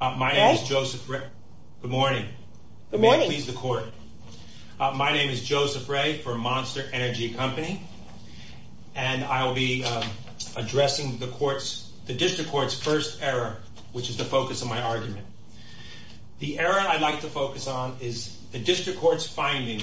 My name is Joseph Ray, for Monster Energy Company, and I will be addressing the District Court's first error, which is the focus of my argument. The error I'd like to focus on is the District Court's finding,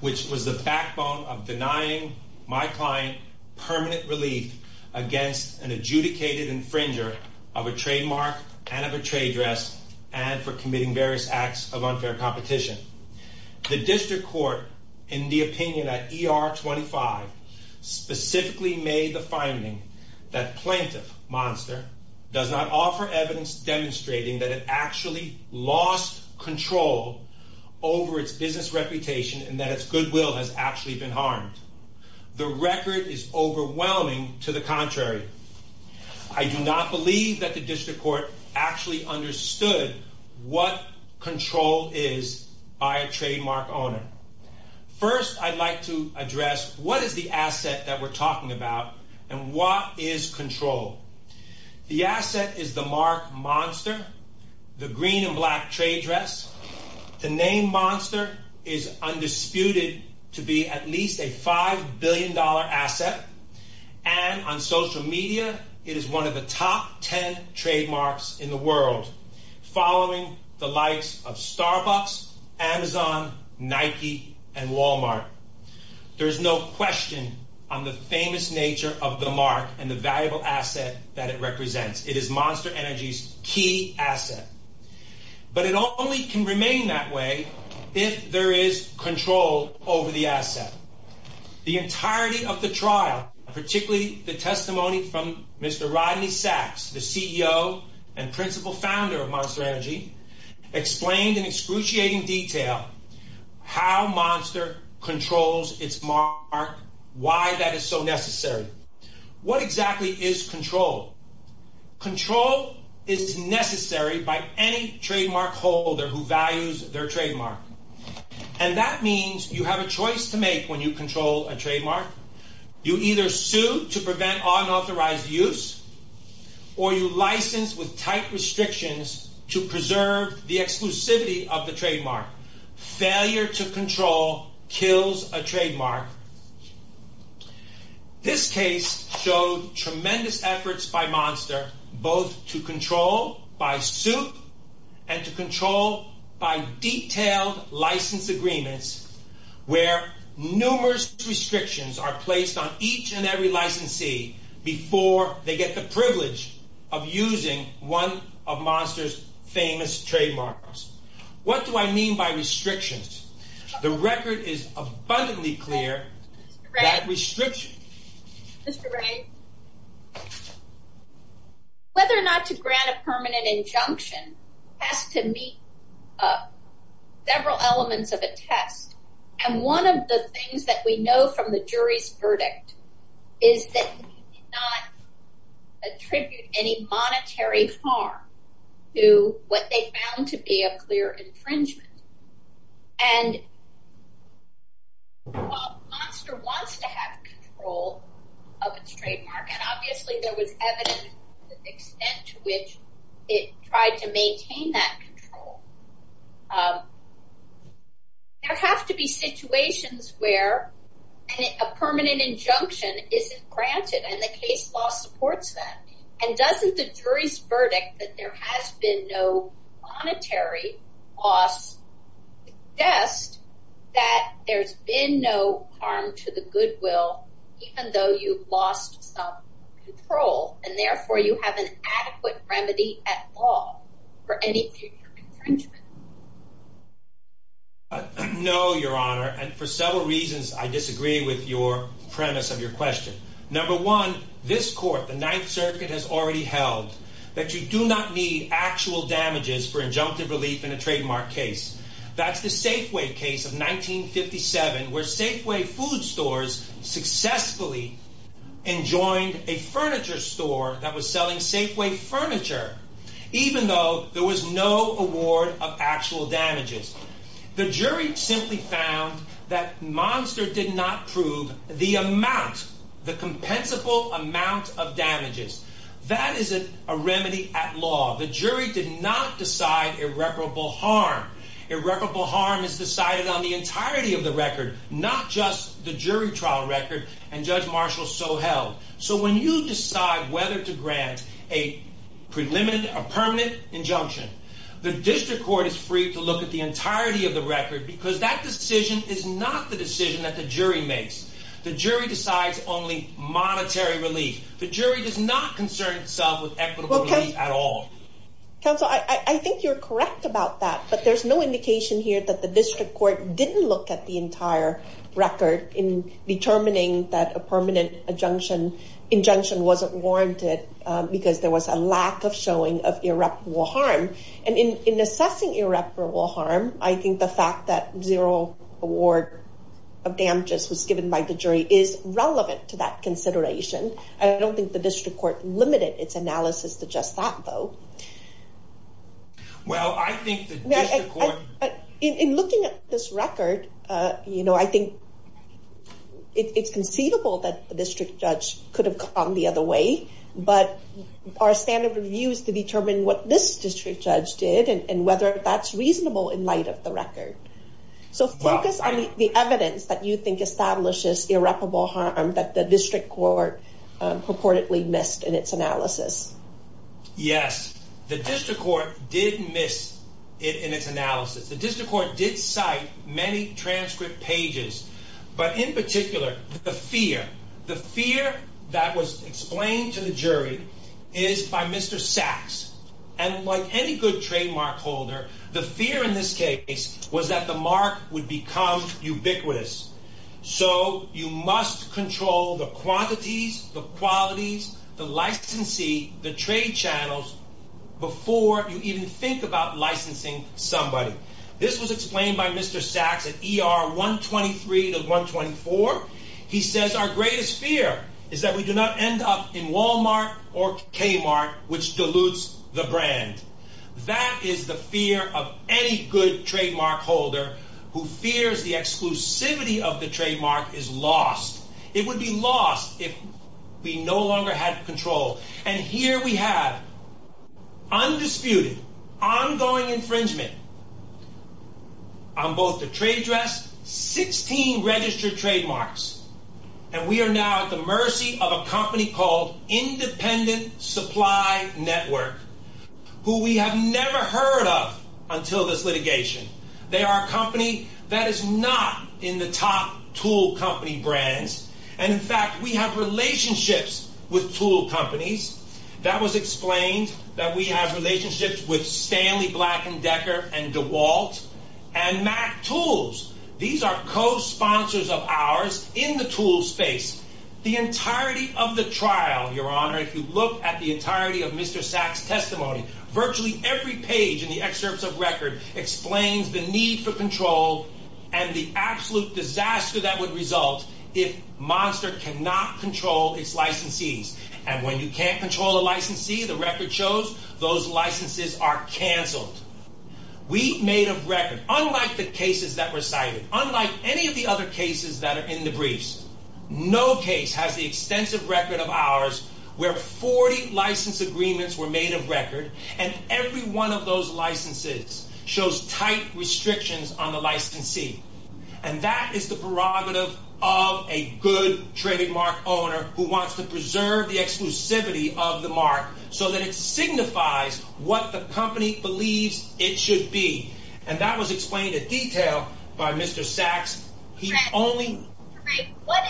which was the backbone of denying my client permanent relief against an adjudicated infringer of a trademark and of a trade dress, and for committing various acts of unfair competition. The District Court, in the opinion at ER 25, specifically made the finding that Plaintiff Monster does not offer evidence demonstrating that it actually lost control over its business reputation and that its goodwill has actually been harmed. The record is overwhelming to the contrary. I do not believe that the District Court actually understood what control is by a trademark owner. First, I'd like to address what is the asset that we're talking about, and what is control? The asset is the mark Monster, the green and black trade dress. The name Monster is undisputed to be at least a $5 billion asset, and on social media, it is one of the top 10 trademarks in the world, following the likes of Starbucks, Amazon, Nike, and Walmart. There is no question on the famous nature of the mark and the valuable asset that it represents. It is Monster Energy's key asset, but it only can remain that way if there is control over the asset. The entirety of the trial, particularly the testimony from Mr. Rodney Sachs, the CEO and principal founder of Monster Energy, explained in excruciating detail how Monster controls its mark, why that is so necessary. What exactly is control? Control is necessary by any trademark holder who values their trademark. And that means you have a choice to make when you control a trademark. You either sue to prevent unauthorized use, or you license with tight restrictions to preserve the exclusivity of the trademark. Failure to control kills a trademark. This case showed tremendous efforts by Monster both to control by suit and to control by detailed license agreements where numerous restrictions are placed on each and every licensee before they get the privilege of using one of Monster's famous trademarks. What do I mean by restrictions? The record is abundantly clear that restrictions... ...several elements of a test. And one of the things that we know from the jury's verdict is that they did not attribute any monetary harm to what they found to be a clear infringement. And while Monster wants to have control of its trademark, and obviously there was evidence to the extent to which it tried to maintain that control, there have to be situations where a permanent injunction isn't granted, and the case law supports that. And doesn't the jury's verdict that there has been no monetary loss suggest that there's been no harm to the goodwill even though you've lost some control, and therefore you have an adequate remedy at law for any future infringement? No, Your Honor, and for several reasons I disagree with your premise of your question. Number one, this court, the Ninth Circuit, has already held that you do not need actual damages for injunctive relief in a trademark case. That's the Safeway case of 1957 where Safeway food stores successfully enjoined a furniture store that was selling Safeway furniture, even though there was no award of actual damages. The jury simply found that Monster did not prove the amount, the compensable amount of damages. That is a remedy at law. The jury did not decide irreparable harm. Irreparable harm is decided on the entirety of the record, not just the jury trial record, and Judge Marshall so held. So when you decide whether to grant a permanent injunction, the district court is free to look at the entirety of the record because that decision is not the decision that the jury makes. The jury decides only monetary relief. The jury does not concern itself with equitable relief at all. Counsel, I think you're correct about that, but there's no indication here that the district court didn't look at the entire record in determining that a permanent injunction wasn't warranted because there was a lack of showing of irreparable harm. And in assessing irreparable harm, I think the fact that zero award of damages was given by the jury is relevant to that consideration. I don't think the district court limited its analysis to just that, though. Well, I think the district court... In looking at this record, you know, I think it's conceivable that the district judge could have gone the other way, but our standard of view is to determine what this district judge did and whether that's reasonable in light of the record. So focus on the evidence that you think establishes irreparable harm that the district court purportedly missed in its analysis. Yes, the district court did miss it in its analysis. The district court did cite many transcript pages. But in particular, the fear, the fear that was explained to the jury is by Mr. Sachs. And like any good trademark holder, the fear in this case was that the mark would become ubiquitous. So you must control the quantities, the qualities, the licensee, the trade channels before you even think about licensing somebody. This was explained by Mr. Sachs at ER 123 to 124. He says, our greatest fear is that we do not end up in Walmart or Kmart, which dilutes the brand. That is the fear of any good trademark holder who fears the exclusivity of the trademark is lost. It would be lost if we no longer had control. And here we have undisputed, ongoing infringement on both the trade dress, 16 registered trademarks. And we are now at the mercy of a company called Independent Supply Network, who we have never heard of until this litigation. They are a company that is not in the top tool company brands. And in fact, we have relationships with tool companies. That was explained that we have relationships with Stanley Black & Decker and DeWalt and MacTools. These are co-sponsors of ours in the tool space. The entirety of the trial, Your Honor, if you look at the entirety of Mr. Sachs' testimony, virtually every page in the excerpts of record explains the need for control and the absolute disaster that would result if Monster cannot control its licensees. And when you can't control a licensee, the record shows those licenses are canceled. We made a record, unlike the cases that were cited, unlike any of the other cases that are in the briefs. No case has the extensive record of ours where 40 license agreements were made of record. And every one of those licenses shows tight restrictions on the licensee. And that is the prerogative of a good trademark owner who wants to preserve the exclusivity of the mark so that it signifies what the company believes it should be. And that was explained in detail by Mr. Sachs. What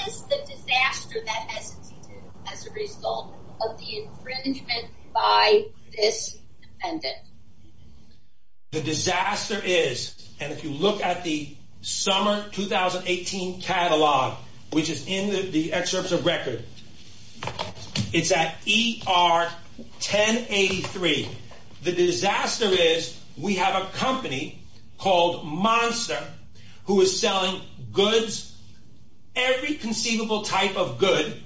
is the disaster that has existed as a result of the infringement by this defendant? The disaster is, and if you look at the summer 2018 catalog, which is in the excerpts of record, it's at ER 1083. The disaster is we have a company called Monster who is selling goods, every conceivable type of good,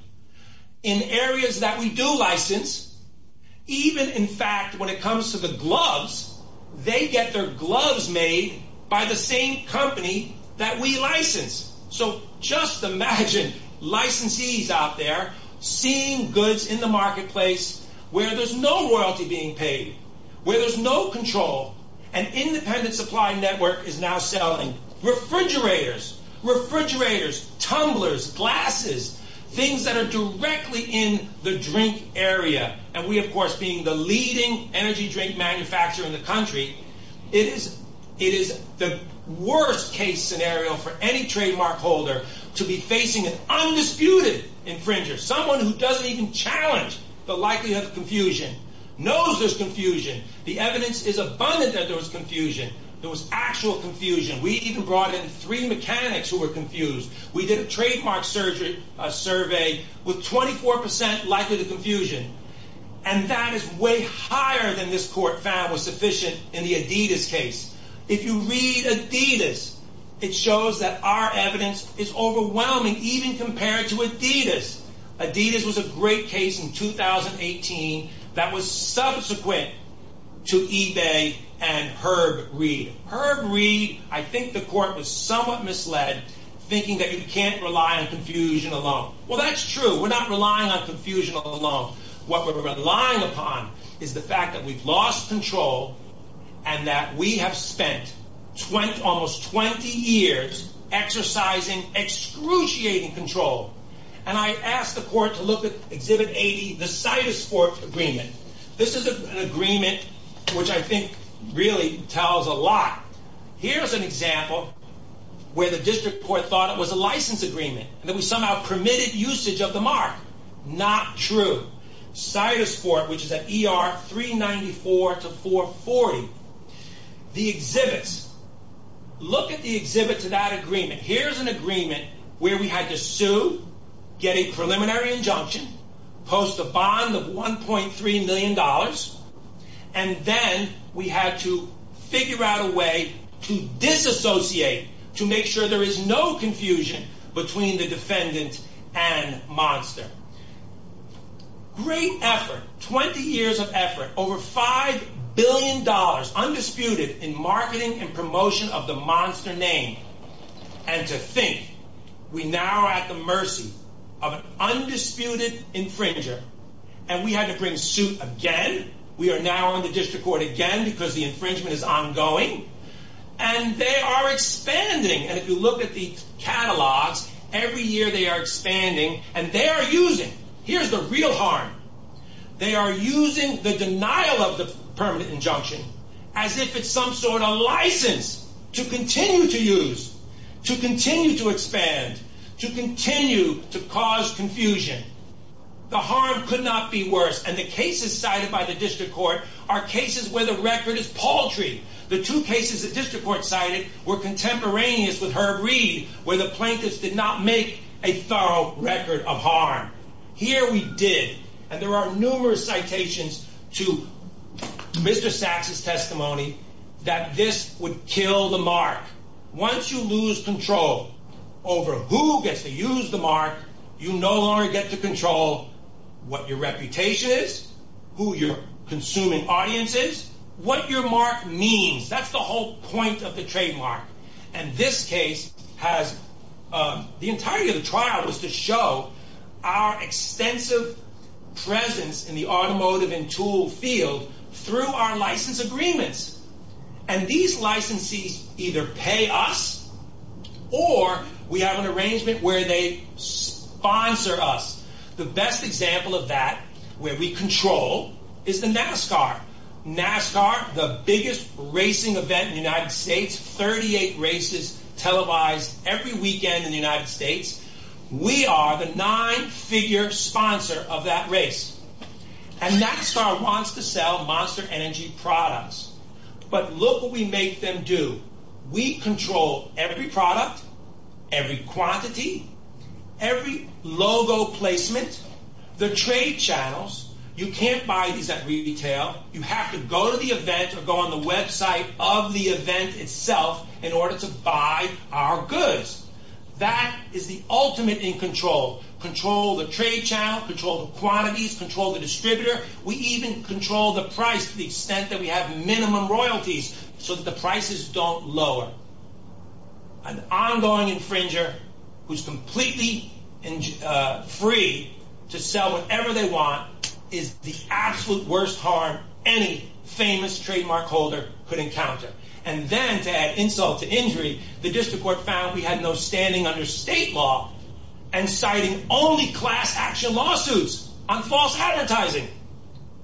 in areas that we do license. Even, in fact, when it comes to the gloves, they get their gloves made by the same company that we license. So just imagine licensees out there seeing goods in the marketplace where there's no royalty being paid, where there's no control. An independent supply network is now selling refrigerators, tumblers, glasses, things that are directly in the drink area. And we, of course, being the leading energy drink manufacturer in the country, it is the worst case scenario for any trademark holder to be facing an undisputed infringer. Someone who doesn't even challenge the likelihood of confusion, knows there's confusion. The evidence is abundant that there was confusion. There was actual confusion. We even brought in three mechanics who were confused. We did a trademark survey with 24% likelihood of confusion, and that is way higher than this court found was sufficient in the Adidas case. If you read Adidas, it shows that our evidence is overwhelming, even compared to Adidas. Adidas was a great case in 2018 that was subsequent to eBay and Herb Reed. Herb Reed, I think the court was somewhat misled, thinking that you can't rely on confusion alone. Well, that's true. We're not relying on confusion alone. What we're relying upon is the fact that we've lost control and that we have spent almost 20 years exercising, excruciating control. And I asked the court to look at Exhibit 80, the Cytosports Agreement. This is an agreement which I think really tells a lot. Here's an example where the district court thought it was a license agreement, that we somehow permitted usage of the mark. Not true. Cytosport, which is at ER 394 to 440. The exhibits. Look at the exhibits of that agreement. Here's an agreement where we had to sue, get a preliminary injunction, post a bond of $1.3 million, and then we had to figure out a way to disassociate, to make sure there is no confusion between the defendant and Monster. Great effort, 20 years of effort, over $5 billion undisputed in marketing and promotion of the Monster name. And to think, we now are at the mercy of an undisputed infringer. And we had to bring suit again. We are now on the district court again because the infringement is ongoing. And they are expanding. And if you look at the catalogs, every year they are expanding and they are using. Here's the real harm. They are using the denial of the permanent injunction as if it's some sort of license to continue to use. To continue to expand. To continue to cause confusion. The harm could not be worse. And the cases cited by the district court are cases where the record is paltry. The two cases the district court cited were contemporaneous with Herb Reed, where the plaintiffs did not make a thorough record of harm. Here we did. And there are numerous citations to Mr. Saxe's testimony that this would kill the mark. Once you lose control over who gets to use the mark, you no longer get to control what your reputation is, who your consuming audience is, what your mark means. That's the whole point of the trademark. And this case has, the entirety of the trial was to show our extensive presence in the automotive and tool field through our license agreements. And these licensees either pay us or we have an arrangement where they sponsor us. The best example of that, where we control, is the NASCAR. NASCAR, the biggest racing event in the United States, 38 races televised every weekend in the United States. We are the nine figure sponsor of that race. And NASCAR wants to sell monster energy products. But look what we make them do. We control every product, every quantity, every logo placement, the trade channels. You can't buy these at retail. You have to go to the event or go on the website of the event itself in order to buy our goods. That is the ultimate in control. Control the trade channel, control the quantities, control the distributor. We even control the price to the extent that we have minimum royalties so that the prices don't lower. An ongoing infringer who is completely free to sell whatever they want is the absolute worst harm any famous trademark holder could encounter. And then to add insult to injury, the district court found we had no standing under state law and citing only class action lawsuits on false advertising.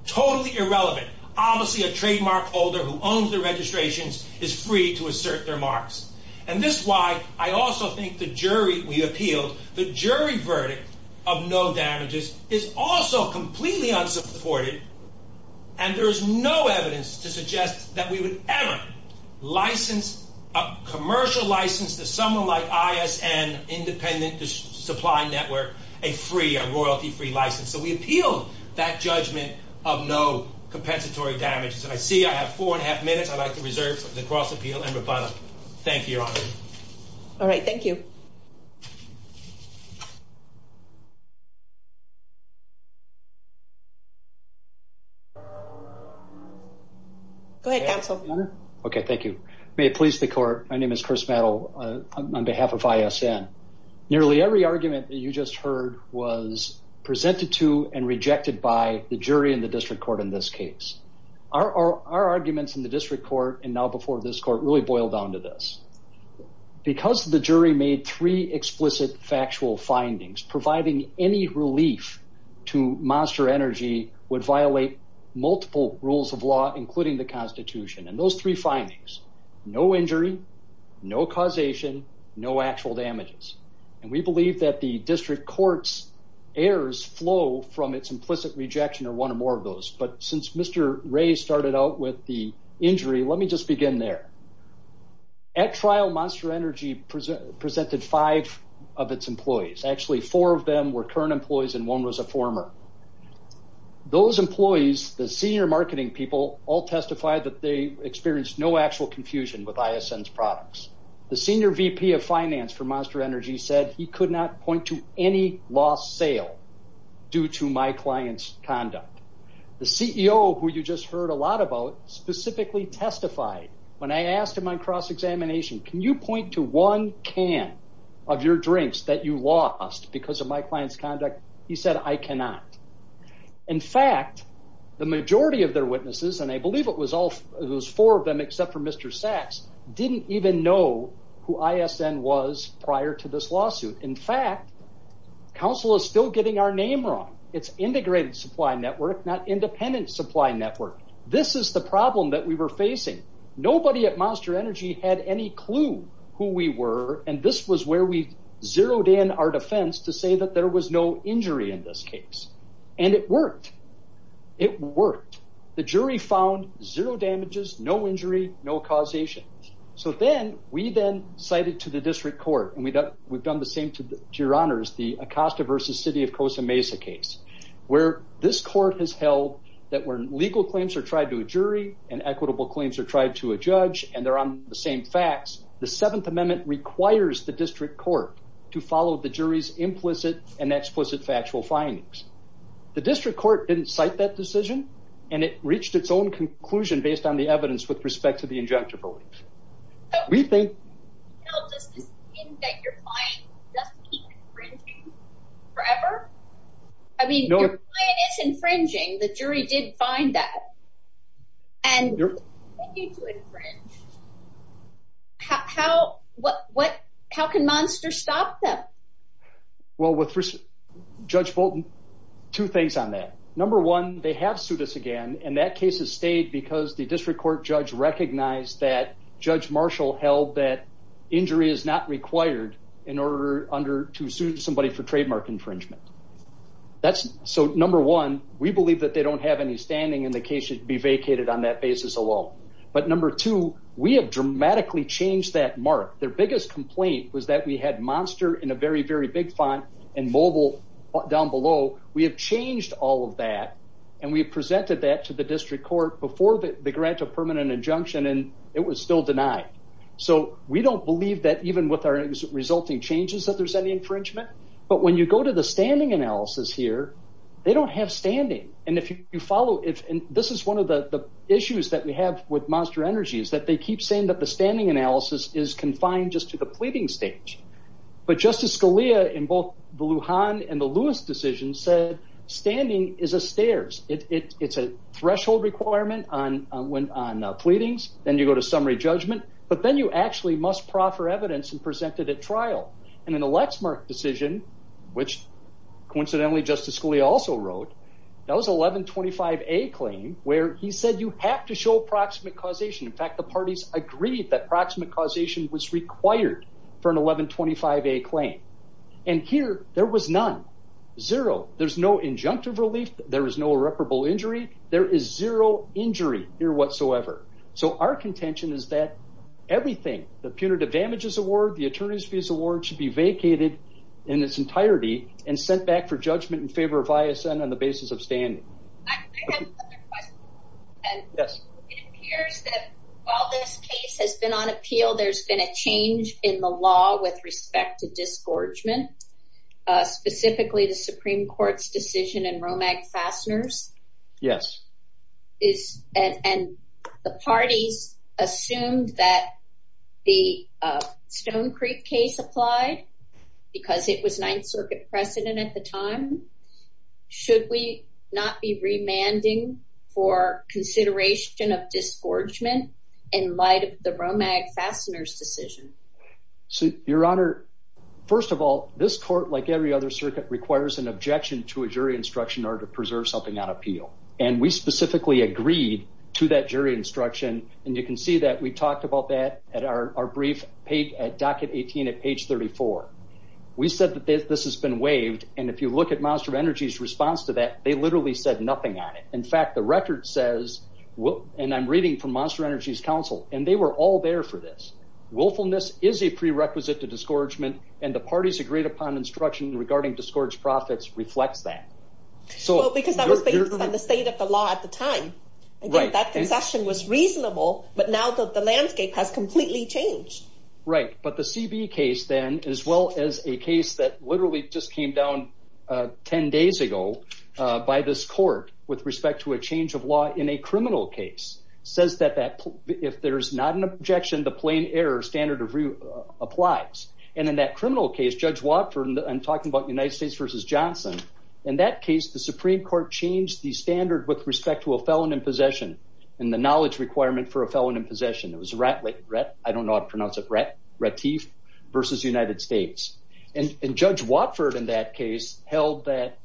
Totally irrelevant. Obviously a trademark holder who owns the registrations is free to assert their marks. And this is why I also think the jury we appealed, the jury verdict of no damages, is also completely unsupported. And there is no evidence to suggest that we would ever license a commercial license to someone like ISN, Independent Supply Network, a free, a royalty-free license. So we appealed that judgment of no compensatory damages. And I see I have four and a half minutes. I'd like to reserve the cross-appeal. Amber Butler, thank you, Your Honor. All right. Thank you. Go ahead, counsel. Okay. Thank you. May it please the court. My name is Chris Mattel on behalf of ISN. Nearly every argument that you just heard was presented to and rejected by the jury in the district court in this case. Our arguments in the district court and now before this court really boil down to this. Because the jury made three explicit factual findings, providing any relief to Monster Energy would violate multiple rules of law, including the Constitution. And those three findings, no injury, no causation, no actual damages. And we believe that the district court's errors flow from its implicit rejection or one or more of those. But since Mr. Ray started out with the injury, let me just begin there. At trial, Monster Energy presented five of its employees. Actually, four of them were current employees and one was a former. Those employees, the senior marketing people, all testified that they experienced no actual confusion with ISN's products. The senior VP of finance for Monster Energy said he could not point to any lost sale due to my client's conduct. The CEO, who you just heard a lot about, specifically testified. I asked him on cross-examination, can you point to one can of your drinks that you lost because of my client's conduct? He said, I cannot. In fact, the majority of their witnesses, and I believe it was four of them except for Mr. Sachs, didn't even know who ISN was prior to this lawsuit. In fact, counsel is still getting our name wrong. It's integrated supply network, not independent supply network. This is the problem that we were facing. Nobody at Monster Energy had any clue who we were, and this was where we zeroed in our defense to say that there was no injury in this case. It worked. It worked. The jury found zero damages, no injury, no causation. We then cited to the district court, and we've done the same to your honors, the Acosta versus City of Cosa Mesa case. Where this court has held that when legal claims are tried to a jury, and equitable claims are tried to a judge, and they're on the same facts, the Seventh Amendment requires the district court to follow the jury's implicit and explicit factual findings. The district court didn't cite that decision, and it reached its own conclusion based on the evidence with respect to the injunctive relief. Does this mean that your client doesn't keep infringing forever? I mean, your client is infringing. The jury did find that. And they continue to infringe. How can Monster stop them? Well, with Judge Bolton, two things on that. Number one, they have sued us again, and that case has stayed because the district court judge recognized that Judge Marshall held that injury is not required in order to sue somebody for trademark infringement. So, number one, we believe that they don't have any standing, and the case should be vacated on that basis alone. But number two, we have dramatically changed that mark. Their biggest complaint was that we had Monster in a very, very big font and Mobile down below. We have changed all of that, and we have presented that to the district court before the grant of permanent injunction, and it was still denied. So, we don't believe that even with our resulting changes that there's any infringement. But when you go to the standing analysis here, they don't have standing. And this is one of the issues that we have with Monster Energy is that they keep saying that the standing analysis is confined just to the pleading stage. But Justice Scalia in both the Lujan and the Lewis decisions said standing is a stairs. It's a threshold requirement on pleadings. Then you go to summary judgment. But then you actually must proffer evidence and present it at trial. And in the Lexmark decision, which coincidentally Justice Scalia also wrote, that was 1125A claim where he said you have to show proximate causation. In fact, the parties agreed that proximate causation was required for an 1125A claim. And here, there was none. Zero. There's no injunctive relief. There is no irreparable injury. There is zero injury here whatsoever. So, our contention is that everything, the punitive damages award, the attorney's fees award, should be vacated in its entirety and sent back for judgment in favor of ISN on the basis of standing. I have another question. Yes. It appears that while this case has been on appeal, there's been a change in the law with respect to disgorgement. Specifically, the Supreme Court's decision in Romag Fasteners. And the parties assumed that the Stone Creek case applied because it was Ninth Circuit precedent at the time. Should we not be remanding for consideration of disgorgement in light of the Romag Fasteners decision? Your Honor, first of all, this court, like every other circuit, requires an objection to a jury instruction in order to preserve something on appeal. We specifically agreed to that jury instruction. And you can see that we talked about that at our brief page at docket 18 at page 34. We said that this has been waived. And if you look at Monster Energy's response to that, they literally said nothing on it. In fact, the record says, and I'm reading from Monster Energy's counsel, and they were all there for this. Willfulness is a prerequisite to disgorgement. And the parties agreed upon instruction regarding disgorge profits reflects that. Well, because that was based on the state of the law at the time. I think that concession was reasonable, but now the landscape has completely changed. Right, but the CB case then, as well as a case that literally just came down 10 days ago by this court with respect to a change of law in a criminal case, says that if there's not an objection, the plain error standard of review applies. And in that criminal case, Judge Watford, I'm talking about United States v. Johnson, in that case, the Supreme Court changed the standard with respect to a felon in possession and the knowledge requirement for a felon in possession. It was Ratliff, I don't know how to pronounce it, Ratliff v. United States. And Judge Watford in that case held that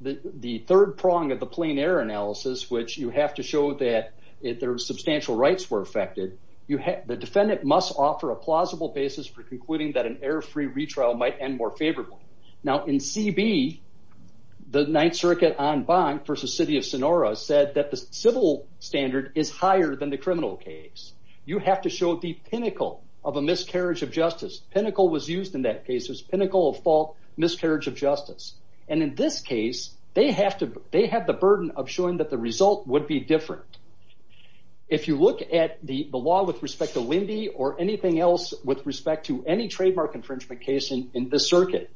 the third prong of the plain error analysis, which you have to show that if their substantial rights were affected, the defendant must offer a plausible basis for concluding that an error-free retrial might end more favorably. Now in CB, the Ninth Circuit on Bonk v. City of Sonora said that the civil standard is higher than the criminal case. You have to show the pinnacle of a miscarriage of justice. Pinnacle was used in that case, it was pinnacle of fault, miscarriage of justice. And in this case, they have the burden of showing that the result would be different. If you look at the law with respect to Lindy or anything else with respect to any trademark infringement case in this circuit,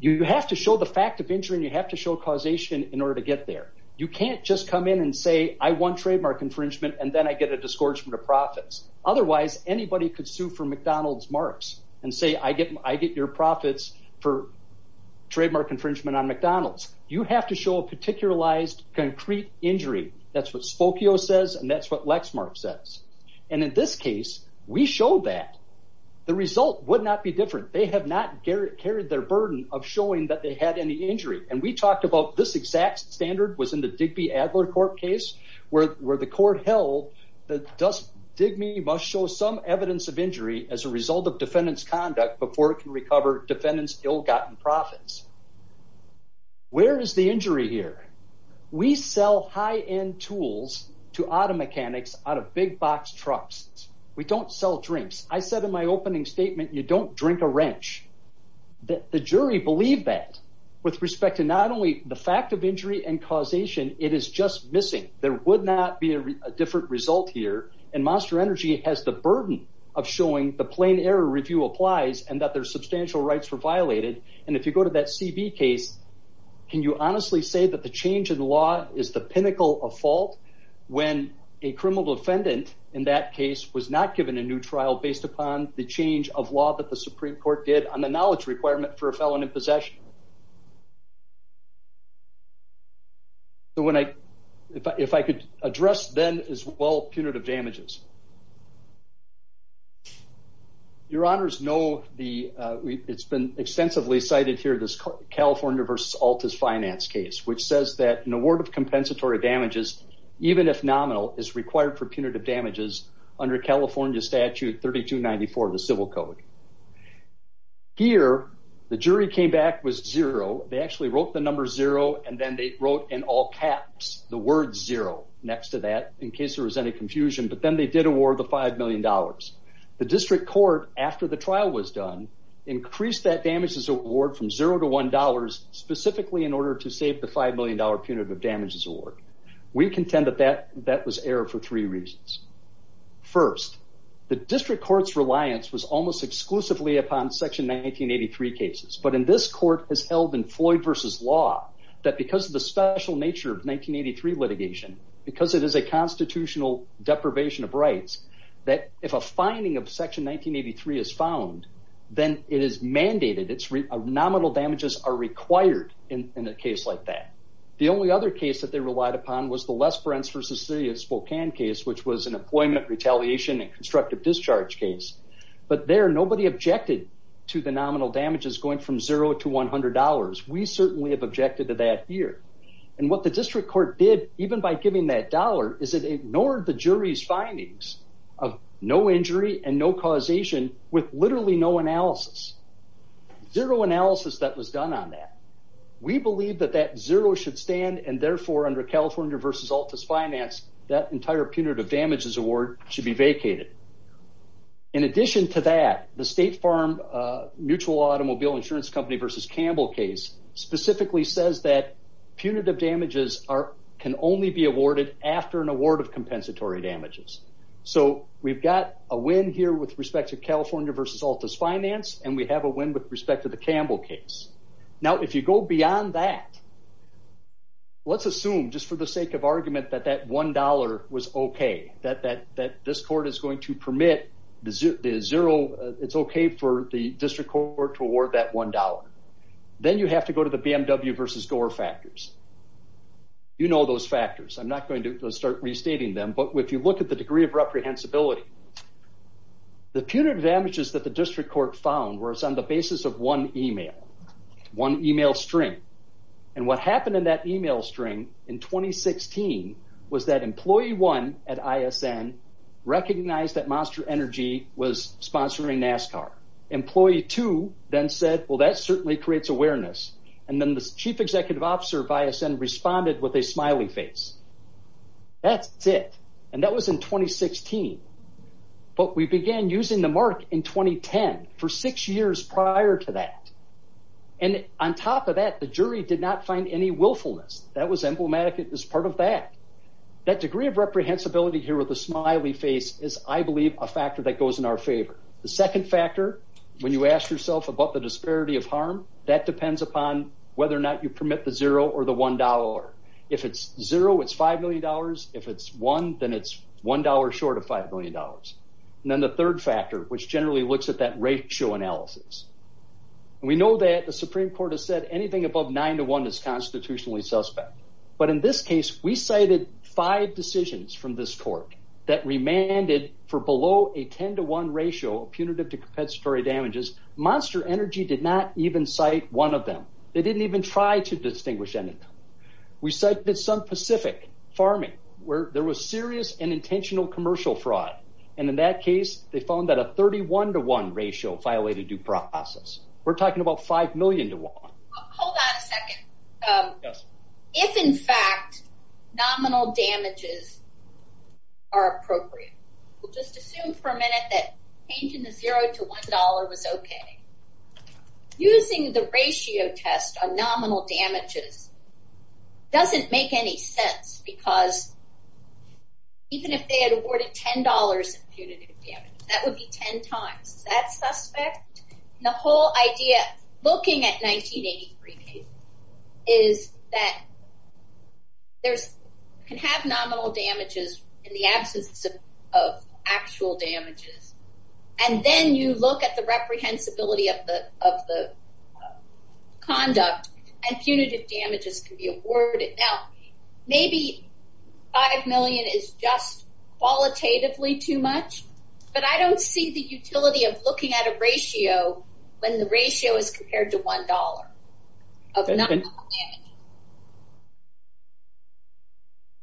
you have to show the fact of injury and you have to show causation in order to get there. You can't just come in and say, I want trademark infringement and then I get a disgorgement of profits. Otherwise, anybody could sue for McDonald's marks and say, I get your profits for trademark infringement on McDonald's. You have to show a particularized, concrete injury. That's what Spokio says and that's what Lexmark says. And in this case, we show that the result would not be different. They have not carried their burden of showing that they had any injury. And we talked about this exact standard was in the Digby-Adler court case where the court held that Digby must show some evidence of injury as a result of defendant's conduct before it can recover defendant's ill-gotten profits. Where is the injury here? We sell high-end tools to auto mechanics out of big box trucks. We don't sell drinks. I said in my opening statement, you don't drink a wrench. The jury believed that with respect to not only the fact of injury and causation, it is just missing. There would not be a different result here. And Monster Energy has the burden of showing the plain error review applies and that their substantial rights were violated. And if you go to that CB case, can you honestly say that the change in law is the pinnacle of fault when a criminal defendant in that case was not given a new trial based upon the change of law that the Supreme Court did on the knowledge requirement for a felon in possession? If I could address then as well punitive damages. Your honors know, it's been extensively cited here, this California versus Altus finance case, which says that an award of compensatory damages, even if nominal, is required for punitive damages under California statute 3294 of the civil code. Here, the jury came back with zero. They actually wrote the number zero and then they wrote in all caps, the word zero next to that in case there was any confusion. But then they did award the $5 million. The district court, after the trial was done, increased that damages award from zero to $1 specifically in order to save the $5 million punitive damages award. We contend that that was error for three reasons. First, the district court's reliance was almost exclusively upon section 1983 cases. But in this court, as held in Floyd versus law, that because of the special nature of 1983 litigation, because it is a constitutional deprivation of rights, that if a finding of section 1983 is found, then it is mandated. Nominal damages are required in a case like that. The only other case that they relied upon was the Les Bruns versus city of Spokane case, which was an employment retaliation and constructive discharge case. But there, nobody objected to the nominal damages going from zero to $100. We certainly have objected to that here. And what the district court did, even by giving that dollar, is it ignored the jury's findings of no injury and no causation with literally no analysis. Zero analysis that was done on that. We believe that that zero should stand, and therefore, under California versus Altus Finance, that entire punitive damages award should be vacated. In addition to that, the State Farm Mutual Automobile Insurance Company versus Campbell case specifically says that punitive damages can only be awarded after an award of compensatory damages. So we've got a win here with respect to California versus Altus Finance, and we have a win with respect to the Campbell case. Now, if you go beyond that, let's assume, just for the sake of argument, that that $1 was okay, that this court is going to permit the zero, it's okay for the district court to award that $1. Then you have to go to the BMW versus Gore factors. You know those factors. I'm not going to start restating them, but if you look at the degree of reprehensibility, the punitive damages that the district court found was on the basis of one email. One email string. And what happened in that email string in 2016 was that employee one at ISN recognized that Monster Energy was sponsoring NASCAR. Employee two then said, well, that certainly creates awareness. And then the chief executive officer of ISN responded with a smiley face. That's it. And that was in 2016. But we began using the mark in 2010 for six years prior to that. And on top of that, the jury did not find any willfulness. That was emblematic as part of that. That degree of reprehensibility here with the smiley face is, I believe, a factor that goes in our favor. The second factor, when you ask yourself about the disparity of harm, that depends upon whether or not you permit the zero or the $1. If it's zero, it's $5 million. If it's one, then it's $1 short of $5 million. And then the third factor, which generally looks at that ratio analysis. We know that the Supreme Court has said anything above 9 to 1 is constitutionally suspect. But in this case, we cited five decisions from this court that remanded for below a 10 to 1 ratio punitive to compensatory damages. Monster Energy did not even cite one of them. They didn't even try to distinguish any of them. We cited some specific farming where there was serious and intentional commercial fraud. And in that case, they found that a 31 to 1 ratio violated due process. We're talking about 5 million to 1. Hold on a second. If, in fact, nominal damages are appropriate, we'll just assume for a minute that changing the zero to $1 was okay. Using the ratio test on nominal damages doesn't make any sense. Because even if they had awarded $10 in punitive damages, that would be 10 times that suspect. And the whole idea, looking at 1983 cases, is that you can have nominal damages in the absence of actual damages. And then you look at the reprehensibility of the conduct and punitive damages can be awarded. Now, maybe 5 million is just qualitatively too much. But I don't see the utility of looking at a ratio when the ratio is compared to $1 of nominal damages.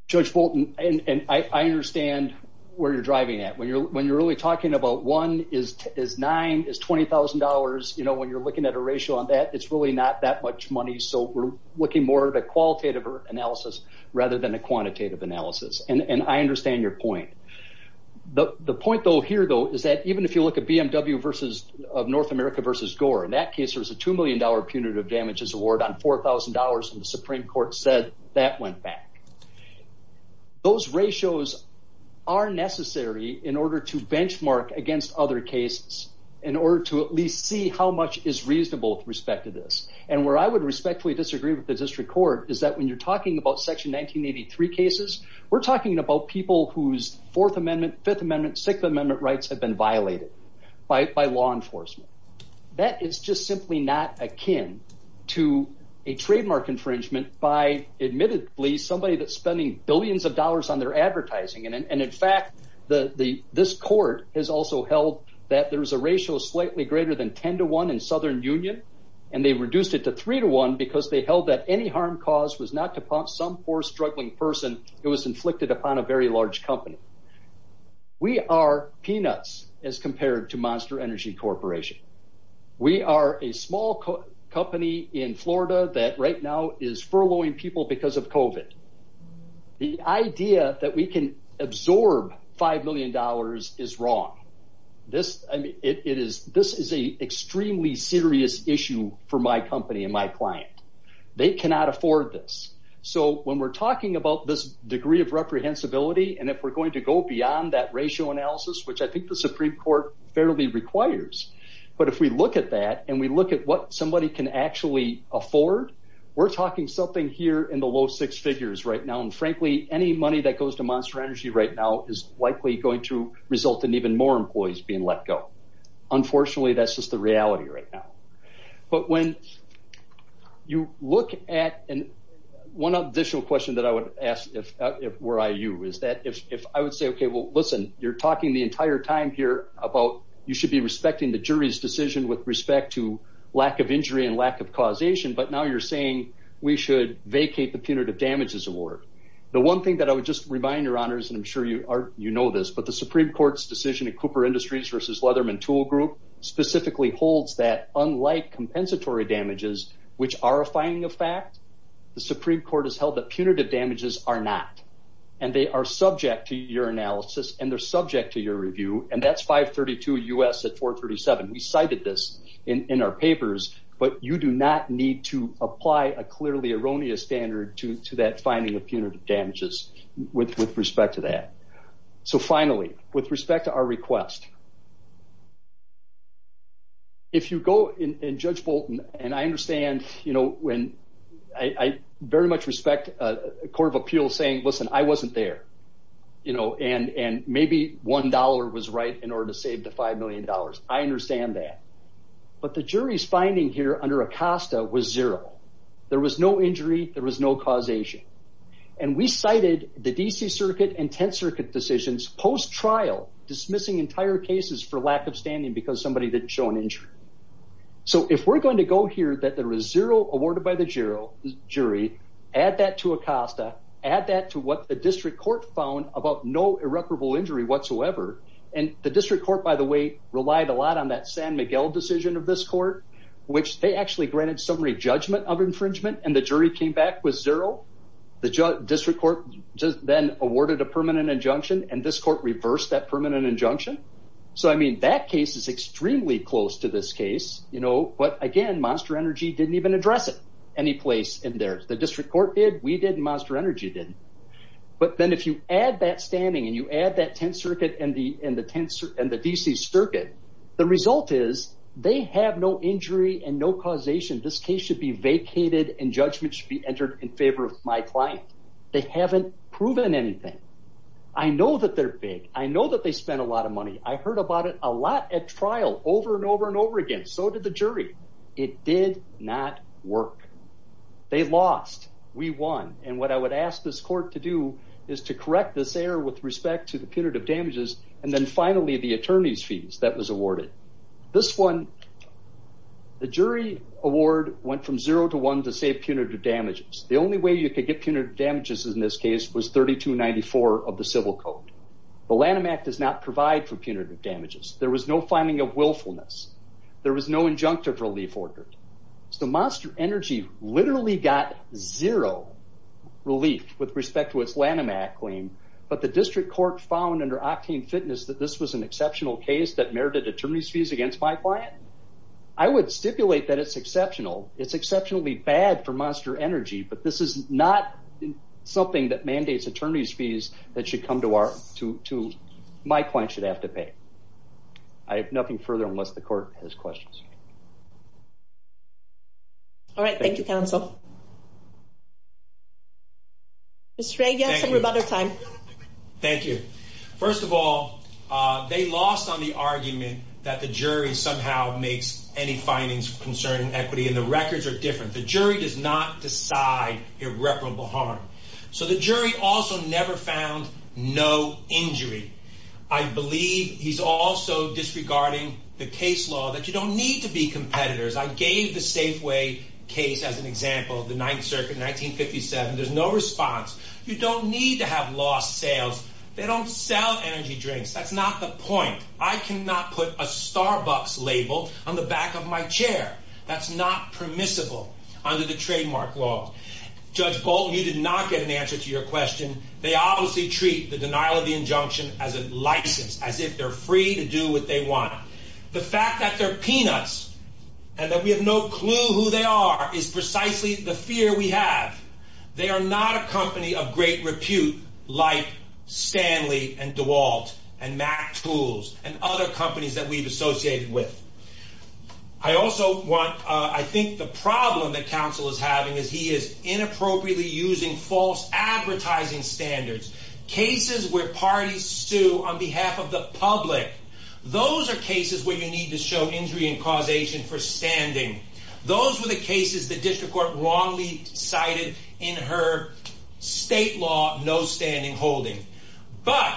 Judge Fulton, I understand where you're driving at. When you're really talking about 1 is 9, is $20,000, when you're looking at a ratio on that, it's really not that much money. So we're looking more at a qualitative analysis rather than a quantitative analysis. And I understand your point. The point, though, here, though, is that even if you look at BMW of North America versus Gore, in that case there was a $2 million punitive damages award on $4,000, and the Supreme Court said that went back. Those ratios are necessary in order to benchmark against other cases, in order to at least see how much is reasonable with respect to this. And where I would respectfully disagree with the District Court is that when you're talking about Section 1983 cases, we're talking about people whose Fourth Amendment, Fifth Amendment, Sixth Amendment rights have been violated by law enforcement. That is just simply not akin to a trademark infringement by, admittedly, somebody that's spending billions of dollars on their advertising. And in fact, this Court has also held that there's a ratio slightly greater than 10 to 1 in Southern Union, and they reduced it to 3 to 1 because they held that any harm caused was not to some poor, struggling person. It was inflicted upon a very large company. We are peanuts as compared to Monster Energy Corporation. We are a small company in Florida that right now is furloughing people because of COVID. The idea that we can absorb $5 million is wrong. This is an extremely serious issue for my company and my client. They cannot afford this. So when we're talking about this degree of reprehensibility and if we're going to go beyond that ratio analysis, which I think the Supreme Court fairly requires, but if we look at that and we look at what somebody can actually afford, we're talking something here in the low six figures right now. And frankly, any money that goes to Monster Energy right now is likely going to result in even more employees being let go. Unfortunately, that's just the reality right now. But when you look at... One additional question that I would ask were I you is that if I would say, okay, well, listen, you're talking the entire time here about you should be respecting the jury's decision with respect to lack of injury and lack of causation, but now you're saying we should vacate the punitive damages award. The one thing that I would just remind your honors, and I'm sure you know this, but the Supreme Court's decision in Cooper Industries versus Leatherman Tool Group specifically holds that unlike compensatory damages, which are a finding of fact, the Supreme Court has held that punitive damages are not. And they are subject to your analysis and they're subject to your review. And that's 532 U.S. at 437. We cited this in our papers, but you do not need to apply a clearly erroneous standard to that finding of punitive damages with respect to that. So finally, with respect to our request, if you go and judge Bolton, and I understand, you know, when I very much respect a court of appeals saying, listen, I wasn't there, you know, and maybe $1 was right in order to save the $5 million. I understand that. But the jury's finding here under Acosta was zero. There was no injury. There was no causation. And we cited the D.C. Circuit and 10th Circuit decisions post-trial dismissing entire cases for lack of standing because somebody didn't show an injury. So if we're going to go here that there was zero awarded by the jury, add that to Acosta, add that to what the district court found about no irreparable injury whatsoever. And the district court, by the way, relied a lot on that San Miguel decision of this court, which they actually granted summary judgment of infringement. And the jury came back with zero. The district court then awarded a permanent injunction. And this court reversed that permanent injunction. So, I mean, that case is extremely close to this case, you know, but again, Monster Energy didn't even address it any place in there. The district court did, we did, and Monster Energy didn't. But then if you add that standing and you add that 10th Circuit and the D.C. Circuit, the result is they have no injury and no causation. This case should be vacated and judgment should be entered in favor of my client. They haven't proven anything. I know that they're big. I know that they spent a lot of money. I heard about it a lot at trial over and over and over again. So did the jury. It did not work. They lost. We won. And what I would ask this court to do is to correct this error with respect to the punitive damages. And then finally, the attorney's fees that was awarded. This one, the jury award went from zero to one to save punitive damages. The only way you could get punitive damages in this case was 3294 of the civil code. The Lanham Act does not provide for punitive damages. There was no finding of willfulness. There was no injunctive relief ordered. So Monster Energy literally got zero relief with respect to its Lanham Act claim, but the district court found under Octane Fitness that this was an exceptional case that merited attorney's fees against my client. I would stipulate that it's exceptional. It's exceptionally bad for Monster Energy, but this is not something that mandates attorney's fees that my client should have to pay. I have nothing further unless the court has questions. All right. Thank you, counsel. Mr. Ray, you have some rebuttal time. Thank you. First of all, they lost on the argument that the jury somehow makes any findings concerning equity, and the records are different. The jury does not decide irreparable harm. So the jury also never found no injury. I believe he's also disregarding the case law that you don't need to be competitors. I gave the Safeway case as an example of the Ninth Circuit in 1957. There's no response. You don't need to have lost sales. They don't sell energy drinks. That's not the point. I cannot put a Starbucks label on the back of my chair. That's not permissible under the trademark law. Judge Bolton, you did not get an answer to your question. They obviously treat the denial of the injunction as a license, as if they're free to do what they want. The fact that they're peanuts and that we have no clue who they are is precisely the fear we have. They are not a company of great repute like Stanley and DeWalt and MacTools. And other companies that we've associated with. I also want, I think the problem that counsel is having is he is inappropriately using false advertising standards. Cases where parties sue on behalf of the public. Those are cases where you need to show injury and causation for standing. Those were the cases the district court wrongly cited in her state law no standing holding. But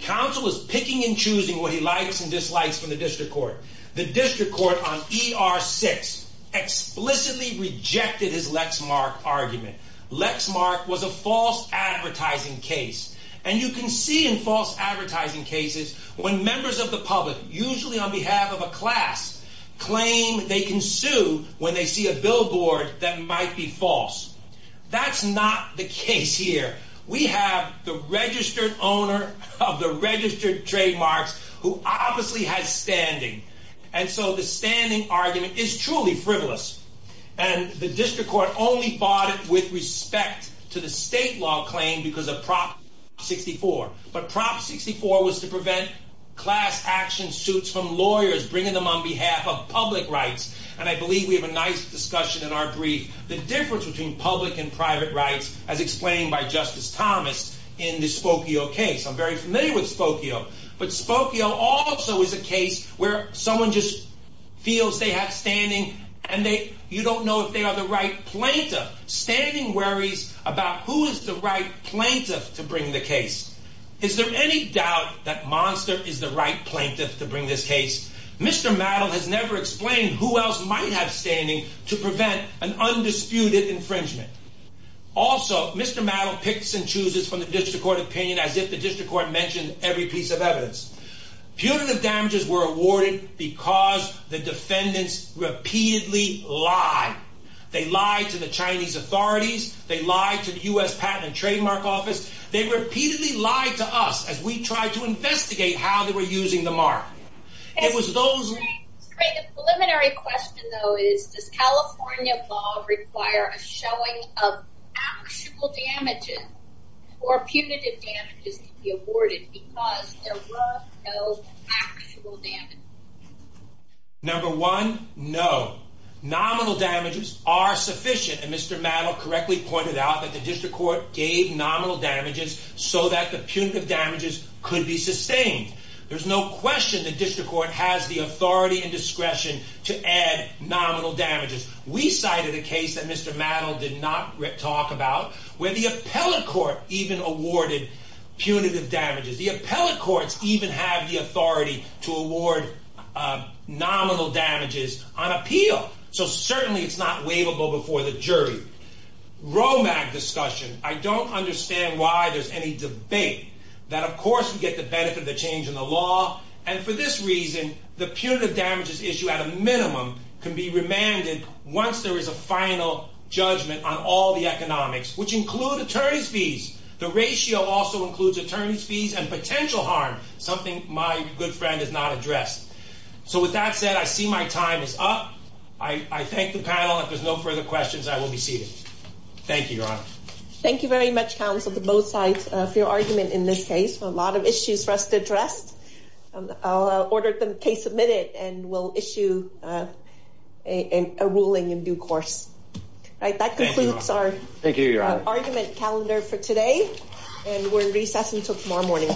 counsel is picking and choosing what he likes and dislikes from the district court. The district court on ER 6 explicitly rejected his Lexmark argument. Lexmark was a false advertising case. And you can see in false advertising cases when members of the public, usually on behalf of a class, claim they can sue when they see a billboard that might be false. That's not the case here. We have the registered owner of the registered trademarks who obviously has standing. And so the standing argument is truly frivolous. And the district court only fought it with respect to the state law claim because of Prop 64. But Prop 64 was to prevent class action suits from lawyers bringing them on behalf of public rights. And I believe we have a nice discussion in our brief. The difference between public and private rights as explained by Justice Thomas in the Spokio case. I'm very familiar with Spokio. But Spokio also is a case where someone just feels they have standing and you don't know if they are the right plaintiff. Standing worries about who is the right plaintiff to bring the case. Is there any doubt that Monster is the right plaintiff to bring this case? Mr. Mattel has never explained who else might have standing to prevent an undisputed infringement. Also, Mr. Mattel picks and chooses from the district court opinion as if the district court mentioned every piece of evidence. Putative damages were awarded because the defendants repeatedly lied. They lied to the Chinese authorities. They lied to the U.S. Patent and Trademark Office. They repeatedly lied to us as we tried to investigate how they were using the mark. The preliminary question though is, does California law require a showing of actual damages or punitive damages to be awarded because there were no actual damages? Number one, no. Nominal damages are sufficient. And Mr. Mattel correctly pointed out that the district court gave nominal damages so that the punitive damages could be sustained. There's no question the district court has the authority and discretion to add nominal damages. We cited a case that Mr. Mattel did not talk about where the appellate court even awarded punitive damages. The appellate courts even have the authority to award nominal damages on appeal. So certainly it's not waivable before the jury. Romack discussion. I don't understand why there's any debate that of course you get the benefit of the change in the law and for this reason the punitive damages issue at a minimum can be remanded once there is a final judgment on all the economics which include attorney's fees. The ratio also includes attorney's fees and potential harm, something my good friend has not addressed. So with that said, I see my time is up. I thank the panel. Thank you, Your Honor. Thank you very much, counsel, to both sides of your argument in this case. A lot of issues for us to address. I'll order the case admitted and we'll issue a ruling in due course. That concludes our argument calendar for today and we're in recess until tomorrow morning.